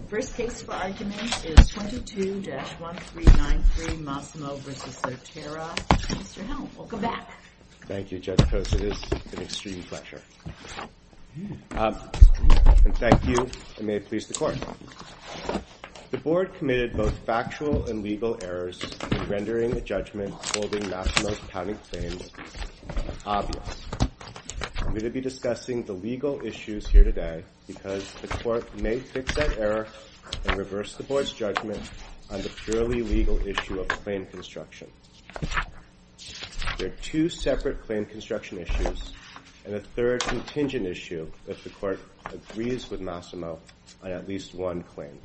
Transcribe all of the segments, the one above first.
The first case for argument is 22-1393 Massimo v. Sotera. Mr. Helm, welcome back. Thank you, Judge Coates. It is an extreme pleasure. And thank you, and may it please the Court. The Board committed both factual and legal errors in rendering the judgment holding Massimo's county claims obvious. I'm going to be discussing the legal issues here today because the Court may fix that error and reverse the Board's judgment on the purely legal issue of claim construction. There are two separate claim construction issues and a third contingent issue if the Court agrees with Massimo on at least one claim.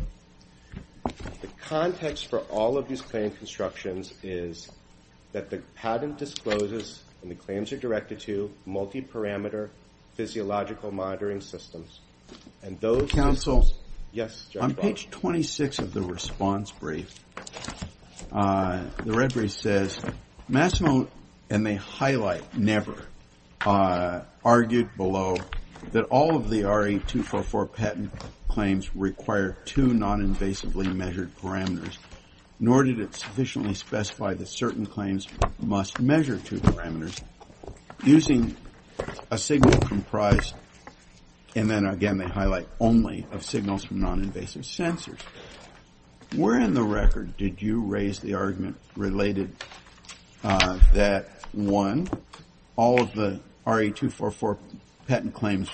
The context for all of these claim constructions is that the patent discloses, and the claims are directed to, multi-parameter physiological monitoring systems. Counsel, on page 26 of the response brief, the red brief says, Massimo, and they highlight never, argued below that all of the RE-244 patent claims require two non-invasively measured parameters, nor did it sufficiently specify that certain claims must measure two parameters using a signal comprised, and then again they highlight, only of signals from non-invasive sensors. Where in the record did you raise the argument related that, one, all of the RE-244 patent claims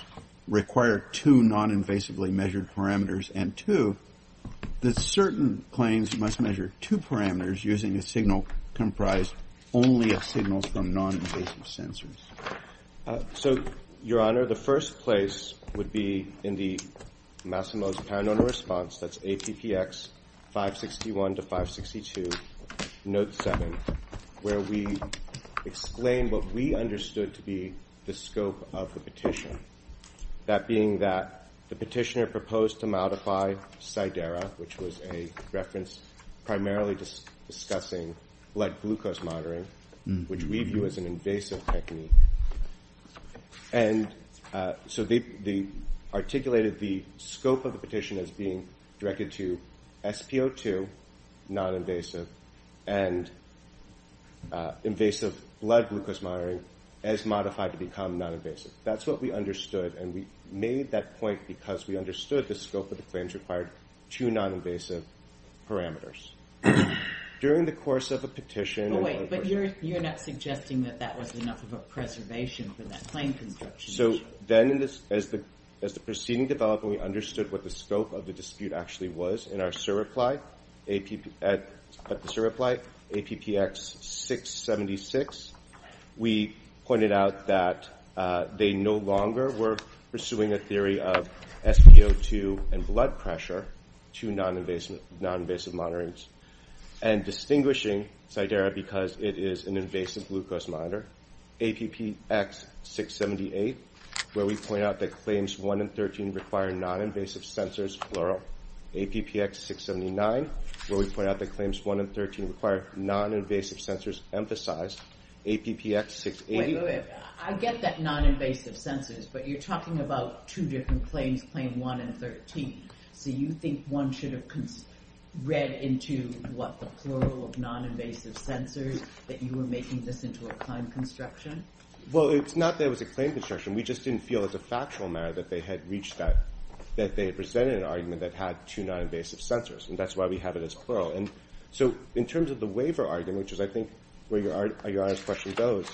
require two non-invasively measured parameters, and two, that certain claims must measure two parameters using a signal comprised only of signals from non-invasive sensors? So, Your Honor, the first place would be in the Massimo's parent-owner response, that's APPX 561 to 562, note 7, where we explain what we understood to be the scope of the petition. That being that the petitioner proposed to modify SIDERA, which was a reference primarily discussing blood glucose monitoring, which we view as an invasive technique. And so they articulated the scope of the petition as being directed to SpO2, non-invasive, and invasive blood glucose monitoring as modified to become non-invasive. That's what we understood, and we made that point because we understood the scope of the claims required two non-invasive parameters. During the course of a petition... Oh, wait, but you're not suggesting that that was enough of a preservation for that claim construction. So then, as the proceeding developed, we understood what the scope of the dispute actually was. APPX 676. We pointed out that they no longer were pursuing a theory of SpO2 and blood pressure, two non-invasive monitorings, and distinguishing SIDERA because it is an invasive glucose monitor. APPX 678, where we point out that claims 1 and 13 require non-invasive sensors, plural. APPX 679, where we point out that claims 1 and 13 require non-invasive sensors, emphasized. APPX 681... Wait, wait, wait. I get that non-invasive sensors, but you're talking about two different claims, claim 1 and 13. So you think one should have read into what the plural of non-invasive sensors, that you were making this into a claim construction? Well, it's not that it was a claim construction. We just didn't feel as a factual matter that they had presented an argument that had two non-invasive sensors, and that's why we have it as plural. And so in terms of the waiver argument, which is, I think, where your Honor's question goes,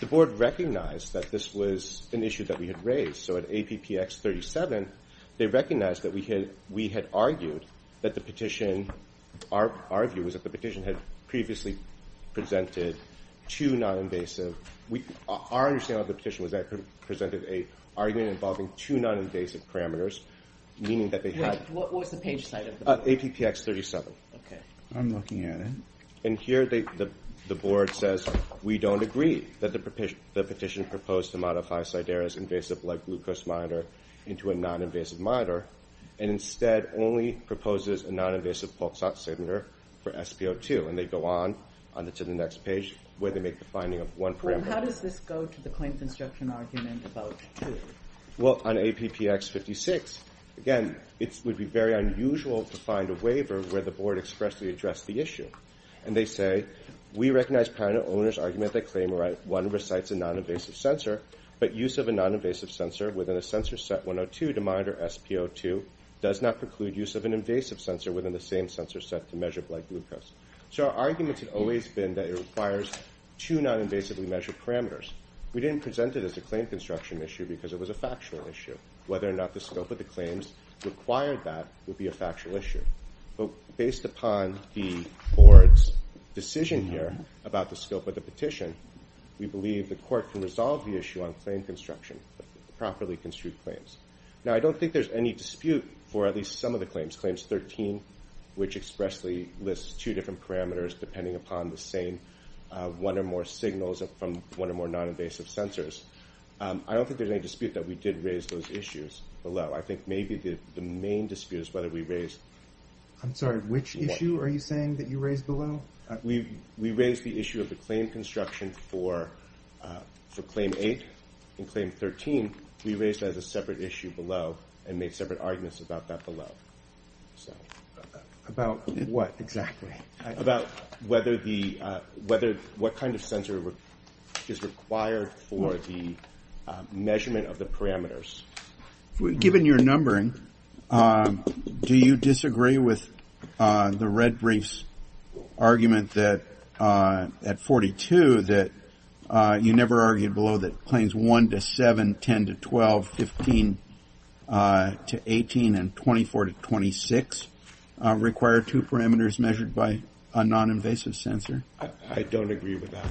the Board recognized that this was an issue that we had raised. So at APPX 37, they recognized that we had argued that the petition, our view was that the petition had previously presented two non-invasive... Our understanding of the petition was that it presented an argument involving two non-invasive parameters, meaning that they had... What was the page site of the petition? APPX 37. Okay. I'm looking at it. And here the Board says, we don't agree that the petition proposed to modify SIDERA's invasive blood glucose monitor into a non-invasive monitor, and instead only proposes a non-invasive PULXSAT signature for SP02. And they go on to the next page, where they make the finding of one parameter. How does this go to the claim construction argument about two? Well, on APPX 56, again, it would be very unusual to find a waiver where the Board expressly addressed the issue. And they say, we recognize panel owners' argument that claim one recites a non-invasive sensor, but use of a non-invasive sensor within a sensor set 102 to monitor SP02 does not preclude use of an invasive sensor within the same sensor set to measure blood glucose. So our argument had always been that it requires two non-invasively measured parameters. We didn't present it as a claim construction issue because it was a factual issue. Whether or not the scope of the claims required that would be a factual issue. But based upon the Board's decision here about the scope of the petition, we believe the Court can resolve the issue on claim construction, properly construed claims. Now, I don't think there's any dispute for at least some of the claims. Claims 13, which expressly lists two different parameters depending upon the same one or more signals from one or more non-invasive sensors. I don't think there's any dispute that we did raise those issues below. I think maybe the main dispute is whether we raised... I'm sorry, which issue are you saying that you raised below? We raised the issue of the claim construction for claim 8. In claim 13, we raised that as a separate issue below and made separate arguments about that below. About what exactly? About what kind of sensor is required for the measurement of the parameters. Given your numbering, do you disagree with the red briefs argument at 42 that you never argued below that claims 1 to 7, 10 to 12, 15 to 18, and 24 to 26 require two parameters measured by a non-invasive sensor? I don't agree with that.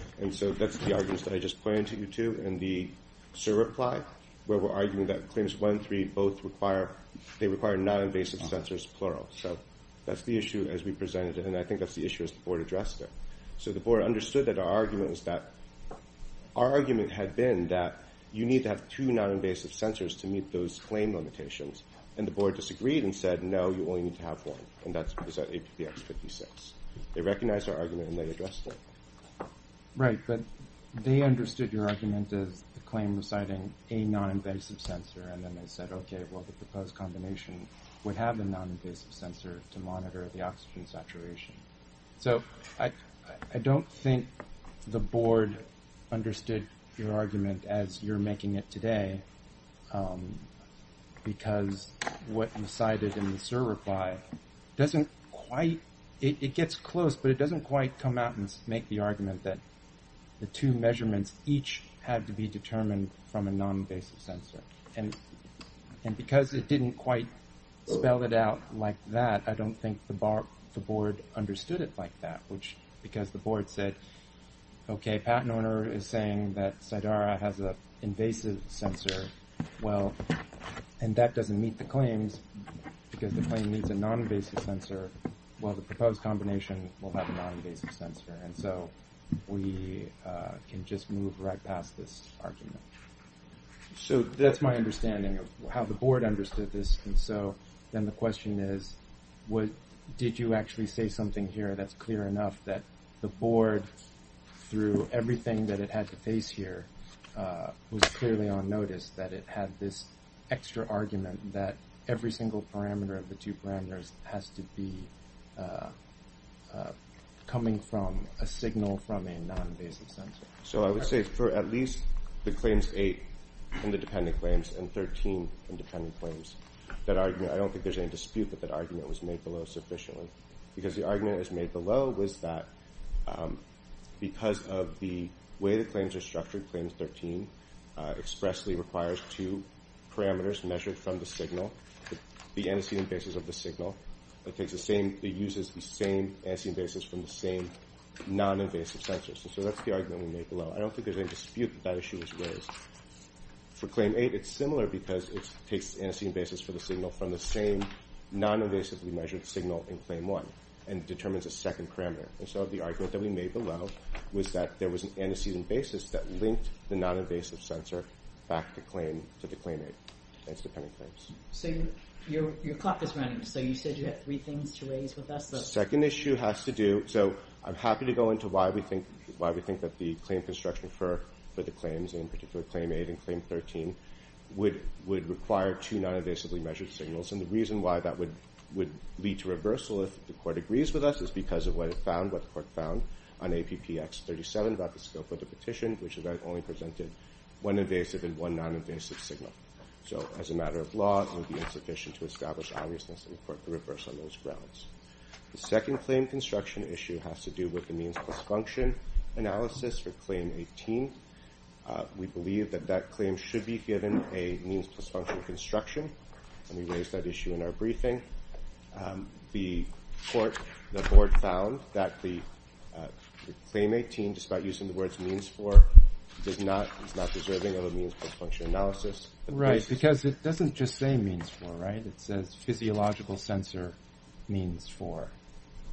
That's the arguments that I just pointed to you, too. In the SIR reply, where we're arguing that claims 1 and 3 both require non-invasive sensors, plural. That's the issue as we presented it, and I think that's the issue as the board addressed it. The board understood that our argument had been that you need to have two non-invasive sensors to meet those claim limitations. The board disagreed and said, no, you only need to have one. That's APBX 56. They recognized our argument, and they addressed it. Right, but they understood your argument as the claim reciting a non-invasive sensor, and then they said, okay, well, the proposed combination would have a non-invasive sensor to monitor the oxygen saturation. I don't think the board understood your argument as you're making it today, because what you cited in the SIR reply, it gets close, but it doesn't quite come out and make the argument that the two measurements each have to be determined from a non-invasive sensor. Because it didn't quite spell it out like that, I don't think the board understood it like that. Because the board said, okay, patent owner is saying that Sidara has an invasive sensor, and that doesn't meet the claims, because the claim needs a non-invasive sensor, while the proposed combination will have a non-invasive sensor. We can just move right past this argument. That's my understanding of how the board understood this. Then the question is, did you actually say something here that's clear enough that the board, through everything that it had to face here, was clearly on notice that it had this extra argument that every single parameter of the two parameters has to be coming from a signal from a non-invasive sensor? I would say for at least the claims eight and the dependent claims and 13 independent claims, I don't think there's any dispute that that argument was made below sufficiently. Because the argument that was made below was that because of the way the claims are structured, claims 13 expressly requires two parameters measured from the signal, the antecedent basis of the signal. It uses the same antecedent basis from the same non-invasive sensors. So that's the argument we made below. I don't think there's any dispute that that issue was raised. For claim eight, it's similar because it takes the antecedent basis for the signal from the same non-invasively measured signal in claim one and determines a second parameter. So the argument that we made below was that there was an antecedent basis that linked the non-invasive sensor back to the claim eight and its dependent claims. So your clock is running. So you said you had three things to raise with us. The second issue has to do – so I'm happy to go into why we think that the claim construction for the claims, in particular claim eight and claim 13, would require two non-invasively measured signals. And the reason why that would lead to reversal if the court agrees with us is because of what the court found on APPX 37 about the scope of the petition, which only presented one invasive and one non-invasive signal. So as a matter of law, it would be insufficient to establish obviousness in the court to reverse on those grounds. The second claim construction issue has to do with the means-plus-function analysis for claim 18. We believe that that claim should be given a means-plus-function construction, and we raised that issue in our briefing. The court – the board found that the claim 18, despite using the words means-for, is not deserving of a means-plus-function analysis. Right, because it doesn't just say means-for, right? It says physiological sensor means-for.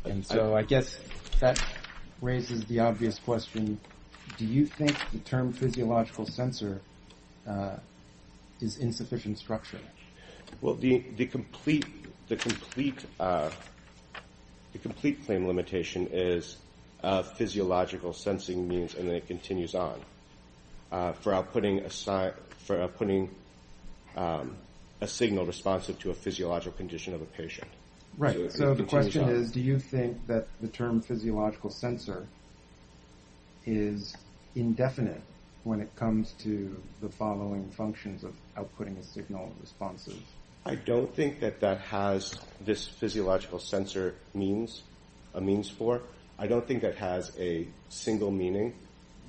And so I guess that raises the obvious question, do you think the term physiological sensor is insufficient structure? Well, the complete claim limitation is physiological sensing means, and then it continues on, for outputting a signal responsive to a physiological condition of a patient. Right, so the question is, do you think that the term physiological sensor is indefinite when it comes to the following functions of outputting a signal responsive? I don't think that that has this physiological sensor means, a means-for. I don't think that has a single meaning.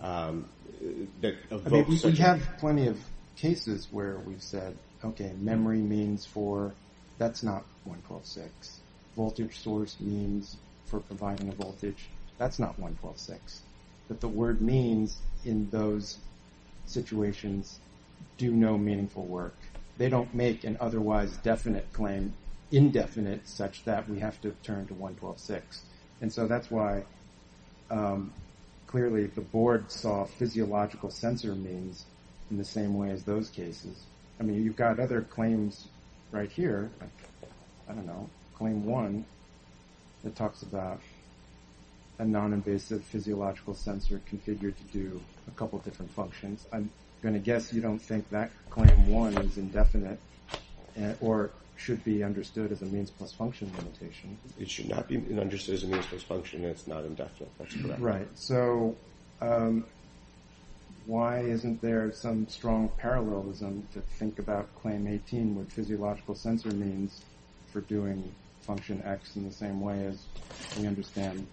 I mean, we have plenty of cases where we've said, okay, memory means-for, that's not 112.6. Voltage source means for providing a voltage, that's not 112.6. But the word means in those situations do no meaningful work. They don't make an otherwise definite claim indefinite such that we have to turn to 112.6. And so that's why clearly the board saw physiological sensor means in the same way as those cases. I mean, you've got other claims right here. I don't know. Claim one, it talks about a non-invasive physiological sensor configured to do a couple different functions. I'm going to guess you don't think that claim one is indefinite or should be understood as a means-plus-function limitation. It should not be understood as a means-plus-function. It's not indefinite. That's correct. Right. So why isn't there some strong parallelism to think about claim 18 with physiological sensor means for doing function X in the same way as we understand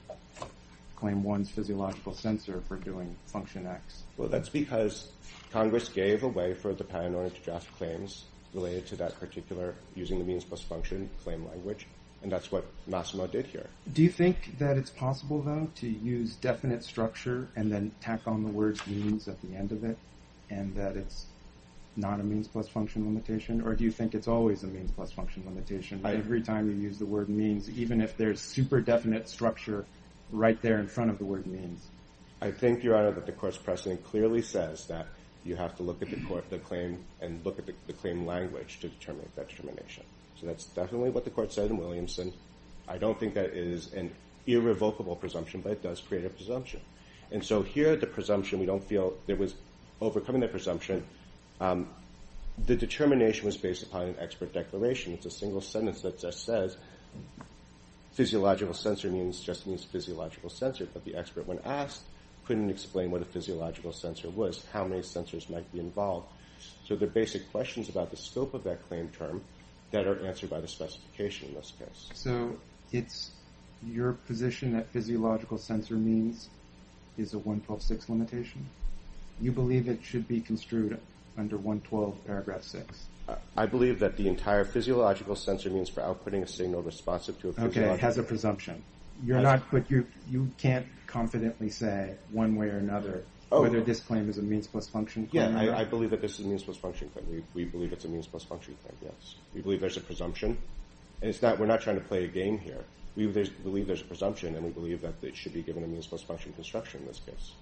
claim one's physiological sensor for doing function X? Well, that's because Congress gave away for the paranoid to draft claims related to that particular using the means-plus-function claim language. And that's what Massimo did here. Do you think that it's possible, though, to use definite structure and then tack on the word means at the end of it and that it's not a means-plus-function limitation? Or do you think it's always a means-plus-function limitation every time you use the word means, even if there's super-definite structure right there in front of the word means? I think, Your Honor, that the court's precedent clearly says that you have to look at the claim and look at the claim language to determine that determination. So that's definitely what the court said in Williamson. I don't think that is an irrevocable presumption, but it does create a presumption. And so here the presumption, we don't feel it was overcoming the presumption. The determination was based upon an expert declaration. It's a single sentence that just says physiological sensor means just means physiological sensor. But the expert, when asked, couldn't explain what a physiological sensor was, how many sensors might be involved. So they're basic questions about the scope of that claim term that are answered by the specification in this case. So it's your position that physiological sensor means is a 112.6 limitation? You believe it should be construed under 112.6? I believe that the entire physiological sensor means for outputting a signal responsive to a physiological sensor. Okay, it has a presumption. You can't confidently say one way or another whether this claim is a means-plus-function claim or not? Yeah, I believe that this is a means-plus-function claim. We believe it's a means-plus-function claim, yes. We believe there's a presumption. We're not trying to play a game here. We believe there's a presumption, and we believe that it should be given a means-plus-function construction in this case.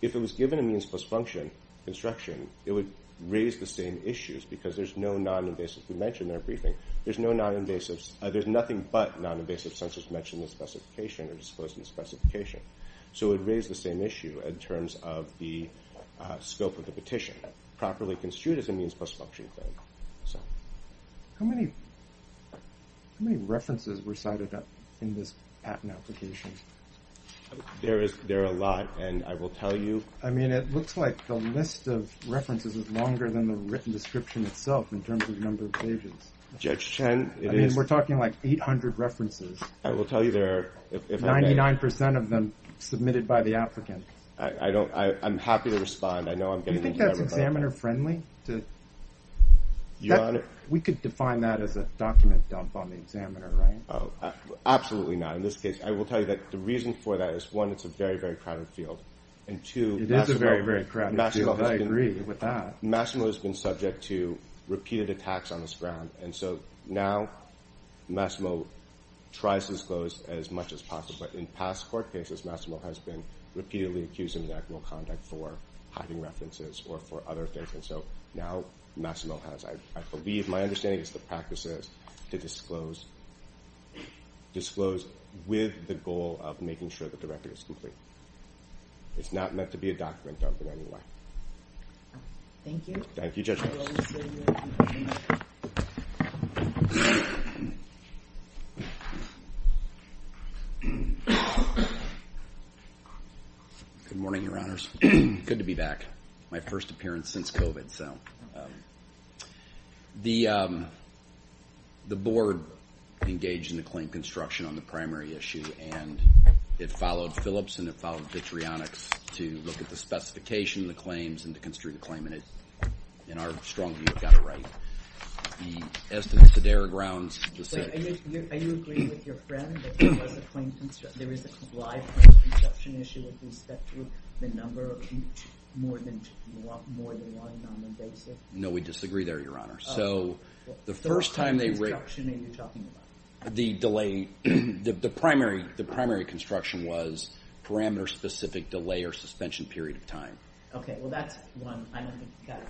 If it was given a means-plus-function construction, it would raise the same issues because there's no non-invasive. We mentioned in our briefing there's no non-invasives. There's nothing but non-invasive sensors mentioned in the specification or disclosed in the specification. So it would raise the same issue in terms of the scope of the petition. Properly construed as a means-plus-function claim. How many references were cited in this patent application? There are a lot, and I will tell you— I mean, it looks like the list of references is longer than the written description itself in terms of number of pages. Judge Chen, it is— I mean, we're talking like 800 references. I will tell you there are— 99% of them submitted by the applicant. I'm happy to respond. I know I'm getting into everybody. Do you think that's examiner-friendly? Your Honor— We could define that as a document dump on the examiner, right? Absolutely not. In this case, I will tell you that the reason for that is, one, it's a very, very crowded field. And two— It is a very, very crowded field. I agree with that. Massimo has been subject to repeated attacks on this ground. And so now Massimo tries to disclose as much as possible. In past court cases, Massimo has been repeatedly accused of inactive conduct for hiding references or for other things. And so now Massimo has. I believe—my understanding is the practice is to disclose with the goal of making sure that the record is complete. It's not meant to be a document dump in any way. Thank you. Thank you, Judge Chen. Good morning, Your Honors. Good to be back. My first appearance since COVID, so. The board engaged in the claim construction on the primary issue, and it followed Phillips and it followed Vitrionics to look at the specification of the claims and to construe the claim. And it, in our strong view, got it right. The estimates of their grounds— Wait, are you agreeing with your friend that there was a claim construction— —more than one on the basis? No, we disagree there, Your Honor. So the first time they— What kind of construction are you talking about? The delay—the primary construction was parameter-specific delay or suspension period of time. Okay, well, that's one. I don't think you got it.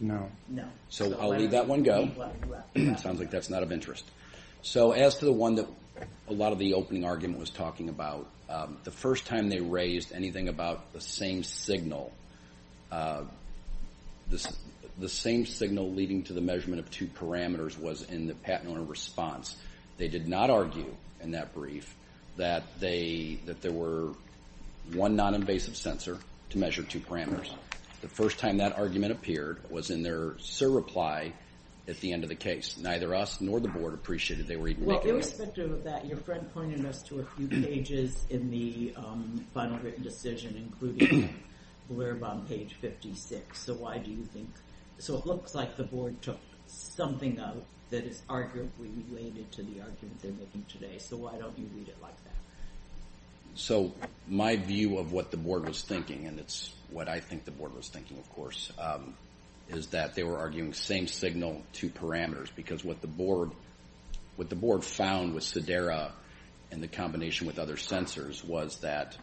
No. No. So I'll leave that one go. Sounds like that's not of interest. So as to the one that a lot of the opening argument was talking about, the first time they raised anything about the same signal, the same signal leading to the measurement of two parameters was in the patent owner response. They did not argue in that brief that there were one non-invasive sensor to measure two parameters. The first time that argument appeared was in their surreply at the end of the case. Neither us nor the board appreciated they were even making— Well, irrespective of that, your friend pointed us to a few pages in the final written decision, including the blurb on page 56. So why do you think—so it looks like the board took something out that is arguably related to the argument they're making today. So why don't you read it like that? So my view of what the board was thinking, and it's what I think the board was thinking, of course, is that they were arguing same signal, two parameters, because what the board found with Sidera in the combination with other sensors was that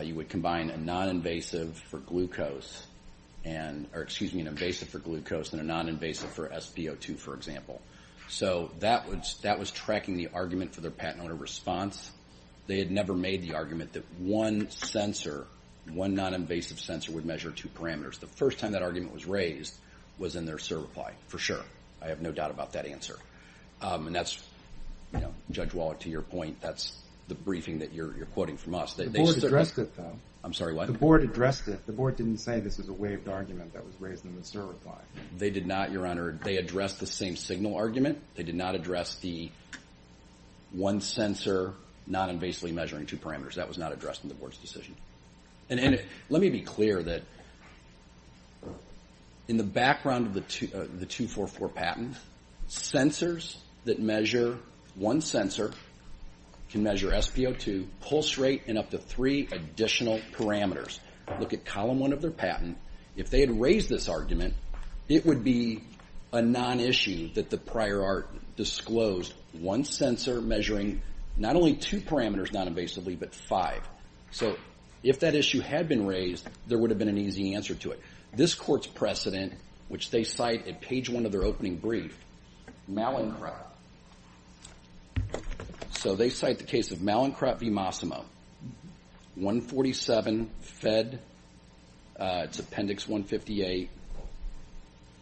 you would combine a non-invasive for glucose and a non-invasive for SpO2, for example. So that was tracking the argument for their patent owner response. They had never made the argument that one sensor, one non-invasive sensor, would measure two parameters. The first time that argument was raised was in their surreply, for sure. I have no doubt about that answer. And that's, Judge Wallach, to your point, that's the briefing that you're quoting from us. The board addressed it, though. I'm sorry, what? The board addressed it. The board didn't say this is a waived argument that was raised in the surreply. They did not, Your Honor. They addressed the same signal argument. They did not address the one sensor non-invasively measuring two parameters. That was not addressed in the board's decision. Let me be clear that in the background of the 244 patent, sensors that measure one sensor can measure SpO2, pulse rate, and up to three additional parameters. Look at column one of their patent. If they had raised this argument, it would be a non-issue that the prior art disclosed. One sensor measuring not only two parameters non-invasively, but five. So if that issue had been raised, there would have been an easy answer to it. This court's precedent, which they cite at page one of their opening brief, Malincrop. So they cite the case of Malincrop v. Mossimo, 147 Fed, it's appendix 158,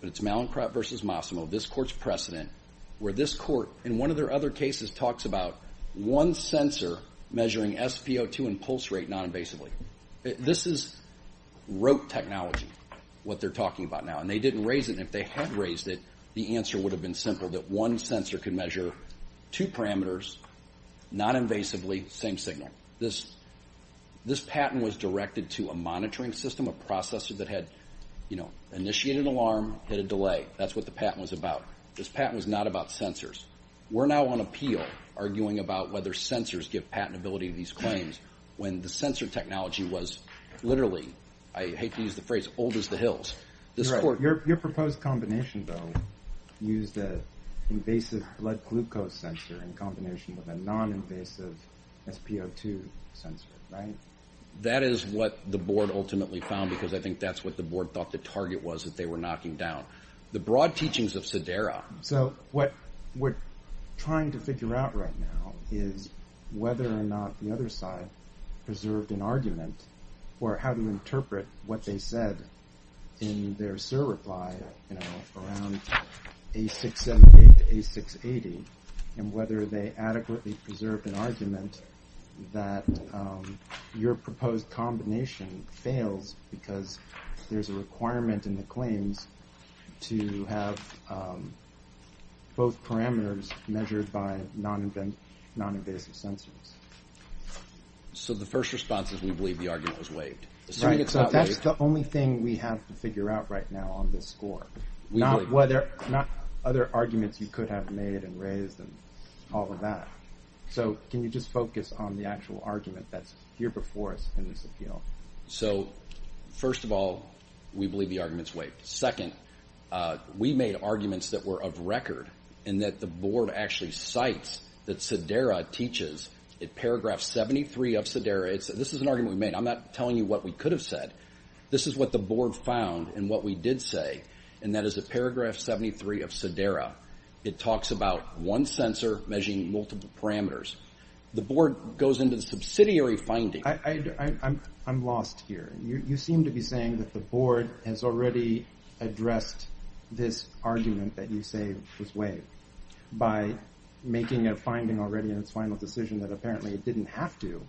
but it's Malincrop versus Mossimo, this court's precedent, where this court, in one of their other cases, talks about one sensor measuring SpO2 and pulse rate non-invasively. This is rote technology, what they're talking about now, and they didn't raise it. And if they had raised it, the answer would have been simple, that one sensor could measure two parameters non-invasively, same signal. This patent was directed to a monitoring system, a processor that had initiated an alarm, hit a delay. That's what the patent was about. This patent was not about sensors. We're now on appeal, arguing about whether sensors give patentability to these claims, when the sensor technology was literally, I hate to use the phrase, old as the hills. Your proposed combination, though, used an invasive blood glucose sensor in combination with a non-invasive SpO2 sensor, right? That is what the board ultimately found, because I think that's what the board thought the target was, that they were knocking down. The broad teachings of Sidera. So what we're trying to figure out right now is whether or not the other side preserved an argument, or how to interpret what they said in their SIR reply, you know, around A678 to A680, and whether they adequately preserved an argument that your proposed combination fails, because there's a requirement in the claims to have both parameters measured by non-invasive sensors. So the first response is we believe the argument was waived. So that's the only thing we have to figure out right now on this score. Not whether, not other arguments you could have made and raised and all of that. So can you just focus on the actual argument that's here before us in this appeal? So, first of all, we believe the argument is waived. Second, we made arguments that were of record and that the board actually cites that Sidera teaches in paragraph 73 of Sidera. This is an argument we made. I'm not telling you what we could have said. This is what the board found and what we did say, and that is in paragraph 73 of Sidera, it talks about one sensor measuring multiple parameters. The board goes into the subsidiary finding. I'm lost here. You seem to be saying that the board has already addressed this argument that you say was waived by making a finding already in its final decision that apparently it didn't have to,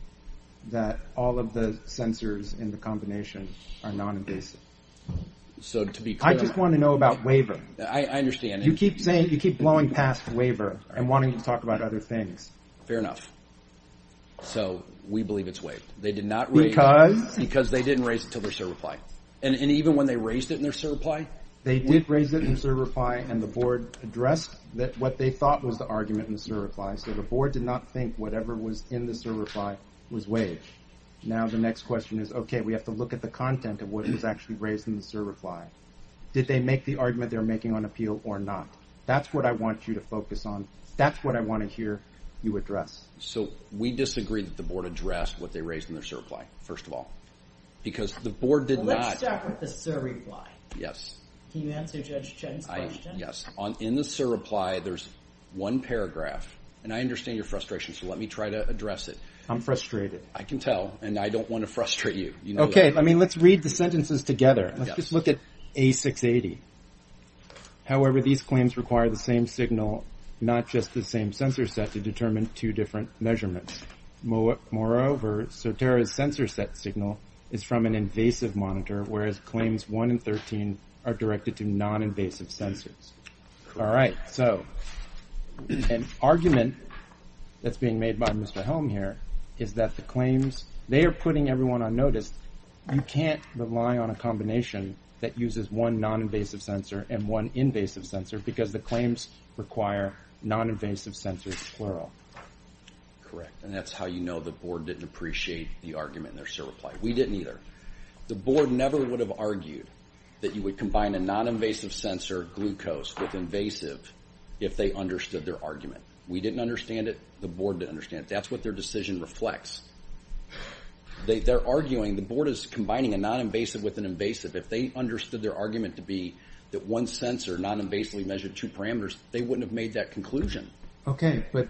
that all of the sensors in the combination are non-invasive. I just want to know about waiver. I understand. You keep blowing past waiver and wanting to talk about other things. Fair enough. So we believe it's waived. Because? Because they didn't raise it until their certify. And even when they raised it in their certify? They did raise it in certify, and the board addressed what they thought was the argument in the certify, so the board did not think whatever was in the certify was waived. Now the next question is, okay, we have to look at the content of what was actually raised in the certify. Did they make the argument they're making on appeal or not? That's what I want you to focus on. That's what I want to hear you address. So we disagree that the board addressed what they raised in their certify, first of all, because the board did not. Let's start with the certify. Yes. Can you answer Judge Chen's question? Yes. In the certify, there's one paragraph, and I understand your frustration, so let me try to address it. I'm frustrated. I can tell, and I don't want to frustrate you. Okay. I mean, let's read the sentences together. Let's just look at A680. However, these claims require the same signal, not just the same sensor set, to determine two different measurements. Moreover, Sotera's sensor set signal is from an invasive monitor, whereas claims 1 and 13 are directed to noninvasive sensors. All right. So an argument that's being made by Mr. Helm here is that the claims, they are putting everyone on notice. You can't rely on a combination that uses one noninvasive sensor and one invasive sensor because the claims require noninvasive sensors, plural. Correct, and that's how you know the board didn't appreciate the argument in their certify. We didn't either. The board never would have argued that you would combine a noninvasive sensor glucose with invasive if they understood their argument. We didn't understand it. The board didn't understand it. That's what their decision reflects. They're arguing the board is combining a noninvasive with an invasive. If they understood their argument to be that one sensor noninvasively measured two parameters, they wouldn't have made that conclusion. Okay, but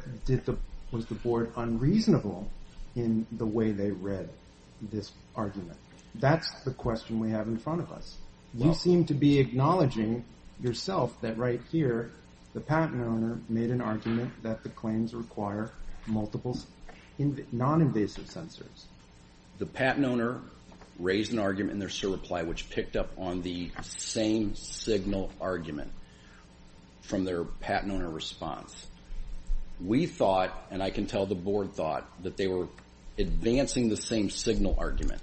was the board unreasonable in the way they read this argument? That's the question we have in front of us. You seem to be acknowledging yourself that right here, the patent owner made an argument that the claims require multiple noninvasive sensors. The patent owner raised an argument in their certify, which picked up on the same signal argument from their patent owner response. We thought, and I can tell the board thought, that they were advancing the same signal argument.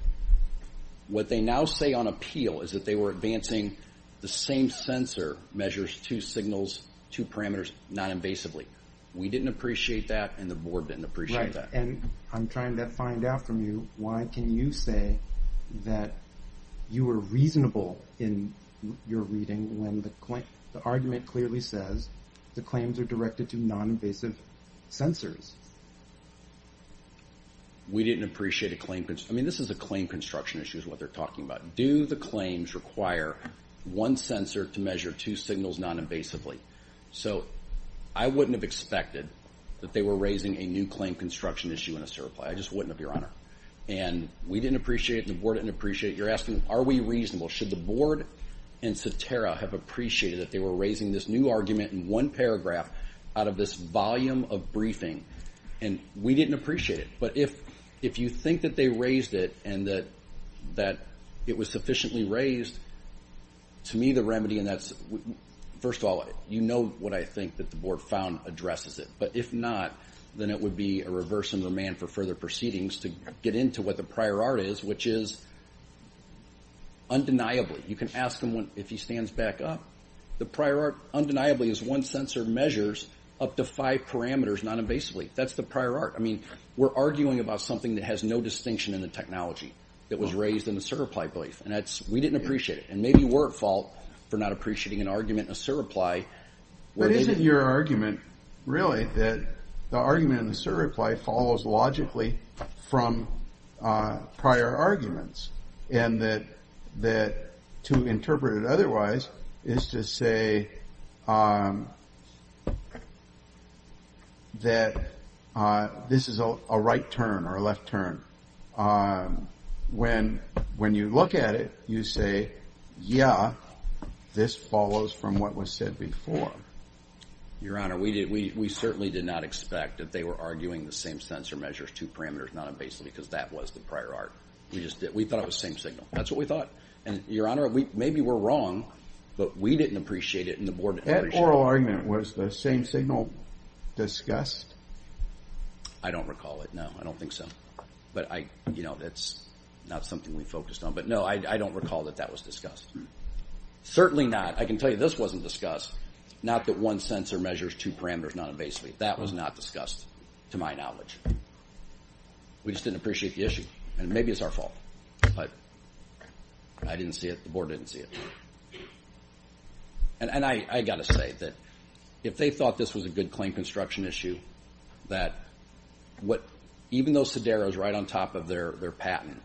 What they now say on appeal is that they were advancing the same sensor measures two signals, two parameters, noninvasively. We didn't appreciate that, and the board didn't appreciate that. Right, and I'm trying to find out from you, why can you say that you were reasonable in your reading when the argument clearly says the claims are directed to noninvasive sensors? We didn't appreciate a claim. I mean, this is a claim construction issue is what they're talking about. Do the claims require one sensor to measure two signals noninvasively? So I wouldn't have expected that they were raising a new claim construction issue in a certify. I just wouldn't have, Your Honor. And we didn't appreciate it, and the board didn't appreciate it. You're asking, are we reasonable? Should the board and Satara have appreciated that they were raising this new argument in one paragraph out of this volume of briefing, and we didn't appreciate it. But if you think that they raised it and that it was sufficiently raised, to me the remedy in that is, first of all, you know what I think that the board found addresses it. But if not, then it would be a reverse in the man for further proceedings to get into what the prior art is, which is undeniably. You can ask him if he stands back up. The prior art undeniably is one sensor measures up to five parameters noninvasively. That's the prior art. I mean, we're arguing about something that has no distinction in the technology that was raised in the certify brief, and we didn't appreciate it. And maybe we're at fault for not appreciating an argument in a certify. But isn't your argument really that the argument in the certify follows logically from prior arguments, and that to interpret it otherwise is to say that this is a right turn or a left turn? When you look at it, you say, yeah, this follows from what was said before. Your Honor, we certainly did not expect that they were arguing the same sensor measures, two parameters noninvasively, because that was the prior art. We just did. We thought it was the same signal. That's what we thought. And, Your Honor, maybe we're wrong, but we didn't appreciate it, and the board didn't appreciate it. That oral argument, was the same signal discussed? I don't recall it, no. I don't think so. But, you know, that's not something we focused on. But, no, I don't recall that that was discussed. Certainly not. I can tell you this wasn't discussed. Not that one sensor measures two parameters noninvasively. That was not discussed, to my knowledge. We just didn't appreciate the issue. And maybe it's our fault, but I didn't see it, the board didn't see it. And I've got to say that if they thought this was a good claim construction issue, that even though Sidero is right on top of their patent,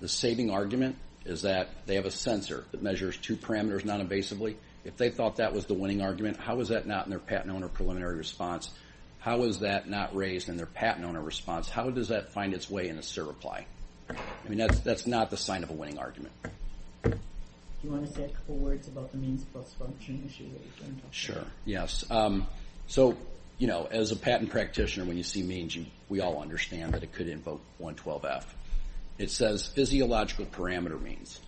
the saving argument is that they have a sensor that measures two parameters noninvasively. If they thought that was the winning argument, how was that not in their patent owner preliminary response? How was that not raised in their patent owner response? How does that find its way in a SIR reply? I mean, that's not the sign of a winning argument. Do you want to say a couple words about the means plus function issue that you were going to talk about? Sure. Yes. So, you know, as a patent practitioner, when you see means, we all understand that it could invoke 112F. It says physiological parameter means.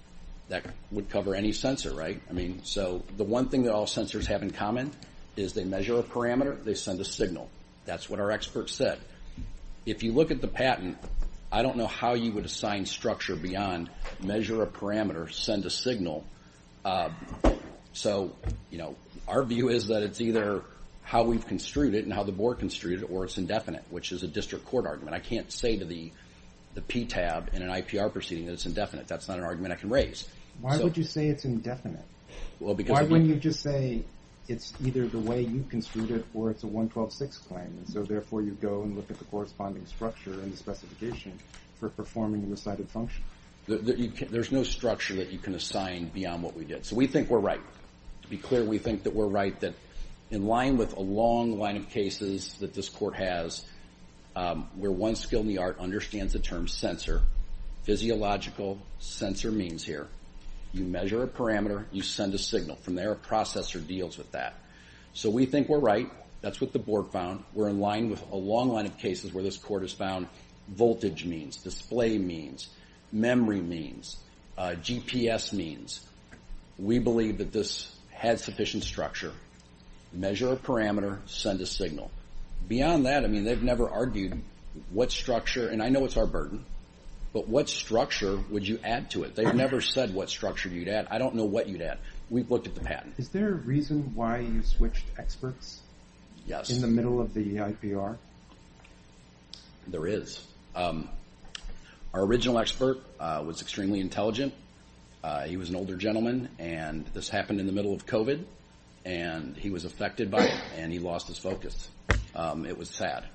That would cover any sensor, right? I mean, so the one thing that all sensors have in common is they measure a parameter, they send a signal. That's what our experts said. But if you look at the patent, I don't know how you would assign structure beyond measure a parameter, send a signal. So, you know, our view is that it's either how we've construed it and how the board construed it or it's indefinite, which is a district court argument. I can't say to the PTAB in an IPR proceeding that it's indefinite. That's not an argument I can raise. Why would you say it's indefinite? Why wouldn't you just say it's either the way you construed it or it's a 112.6 claim? And so, therefore, you go and look at the corresponding structure and the specification for performing the decided function? There's no structure that you can assign beyond what we did. So we think we're right. To be clear, we think that we're right, that in line with a long line of cases that this court has, where one skill in the art understands the term sensor, physiological sensor means here. You measure a parameter, you send a signal. From there, a processor deals with that. So we think we're right. That's what the board found. We're in line with a long line of cases where this court has found voltage means, display means, memory means, GPS means. We believe that this has sufficient structure. Measure a parameter, send a signal. Beyond that, I mean, they've never argued what structure, and I know it's our burden, but what structure would you add to it? They've never said what structure you'd add. I don't know what you'd add. We've looked at the patent. Is there a reason why you switched experts? Yes. In the middle of the IPR? There is. Our original expert was extremely intelligent. He was an older gentleman, and this happened in the middle of COVID, and he was affected by it, and he lost his focus. It was sad.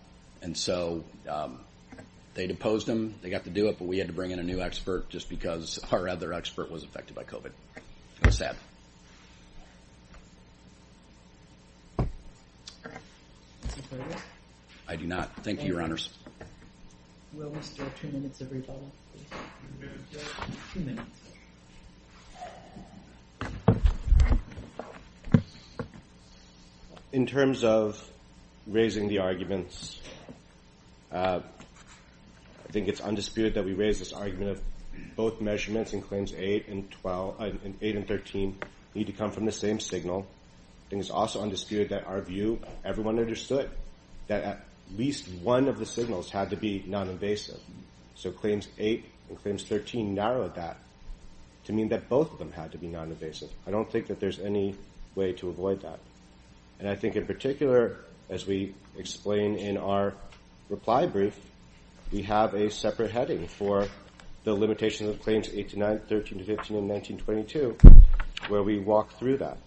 And so they deposed him. They got to do it, but we had to bring in a new expert just because our other expert was affected by COVID. It was sad. I do not. Thank you, Your Honors. We still have two minutes, everybody. Two minutes. In terms of raising the arguments, I think it's undisputed that we raise this argument of both measurements in Claims 8 and 13 need to come from the same signal. I think it's also undisputed that our view, everyone understood that at least one of the signals had to be noninvasive. So Claims 8 and Claims 13 narrowed that to mean that both of them had to be noninvasive. I don't think that there's any way to avoid that. And I think in particular, as we explain in our reply brief, we have a separate heading for the limitations of Claims 8-9, 13-15, and 19-22 where we walk through that.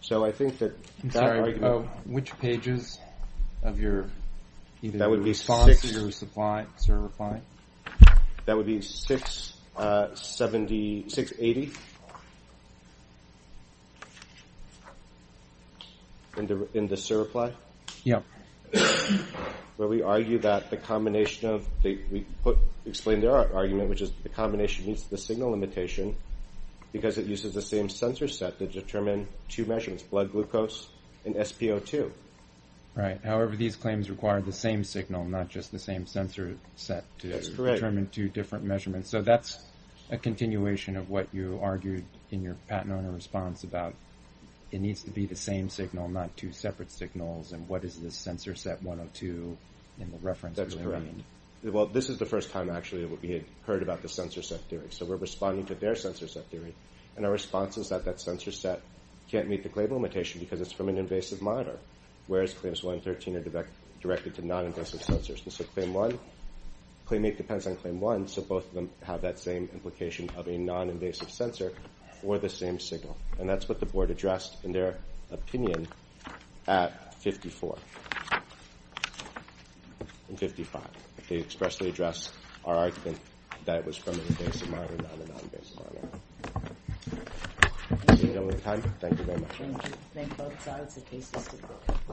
So I think that that argument. I'm sorry. Which pages of your response to your reply? That would be 680 in the survey reply. Yeah. Where we argue that the combination of, we explain their argument, which is the combination needs the signal limitation because it uses the same sensor set to determine two measurements, blood glucose and SpO2. Right. However, these claims require the same signal, not just the same sensor set to determine two different measurements. So that's a continuation of what you argued in your patent owner response about it needs to be the same signal, not two separate signals, and what is the sensor set 102 in the reference? That's correct. Well, this is the first time, actually, that we had heard about the sensor set theory. So we're responding to their sensor set theory, and our response is that that sensor set can't meet the claim limitation because it's from an invasive monitor, whereas Claims 1 and 13 are directed to noninvasive sensors. And so Claim 8 depends on Claim 1, so both of them have that same implication of a noninvasive sensor or the same signal. And that's what the board addressed in their opinion at 54 and 55. They expressly addressed our argument that it was from an invasive monitor, not a noninvasive monitor. Thank you very much. Thank you.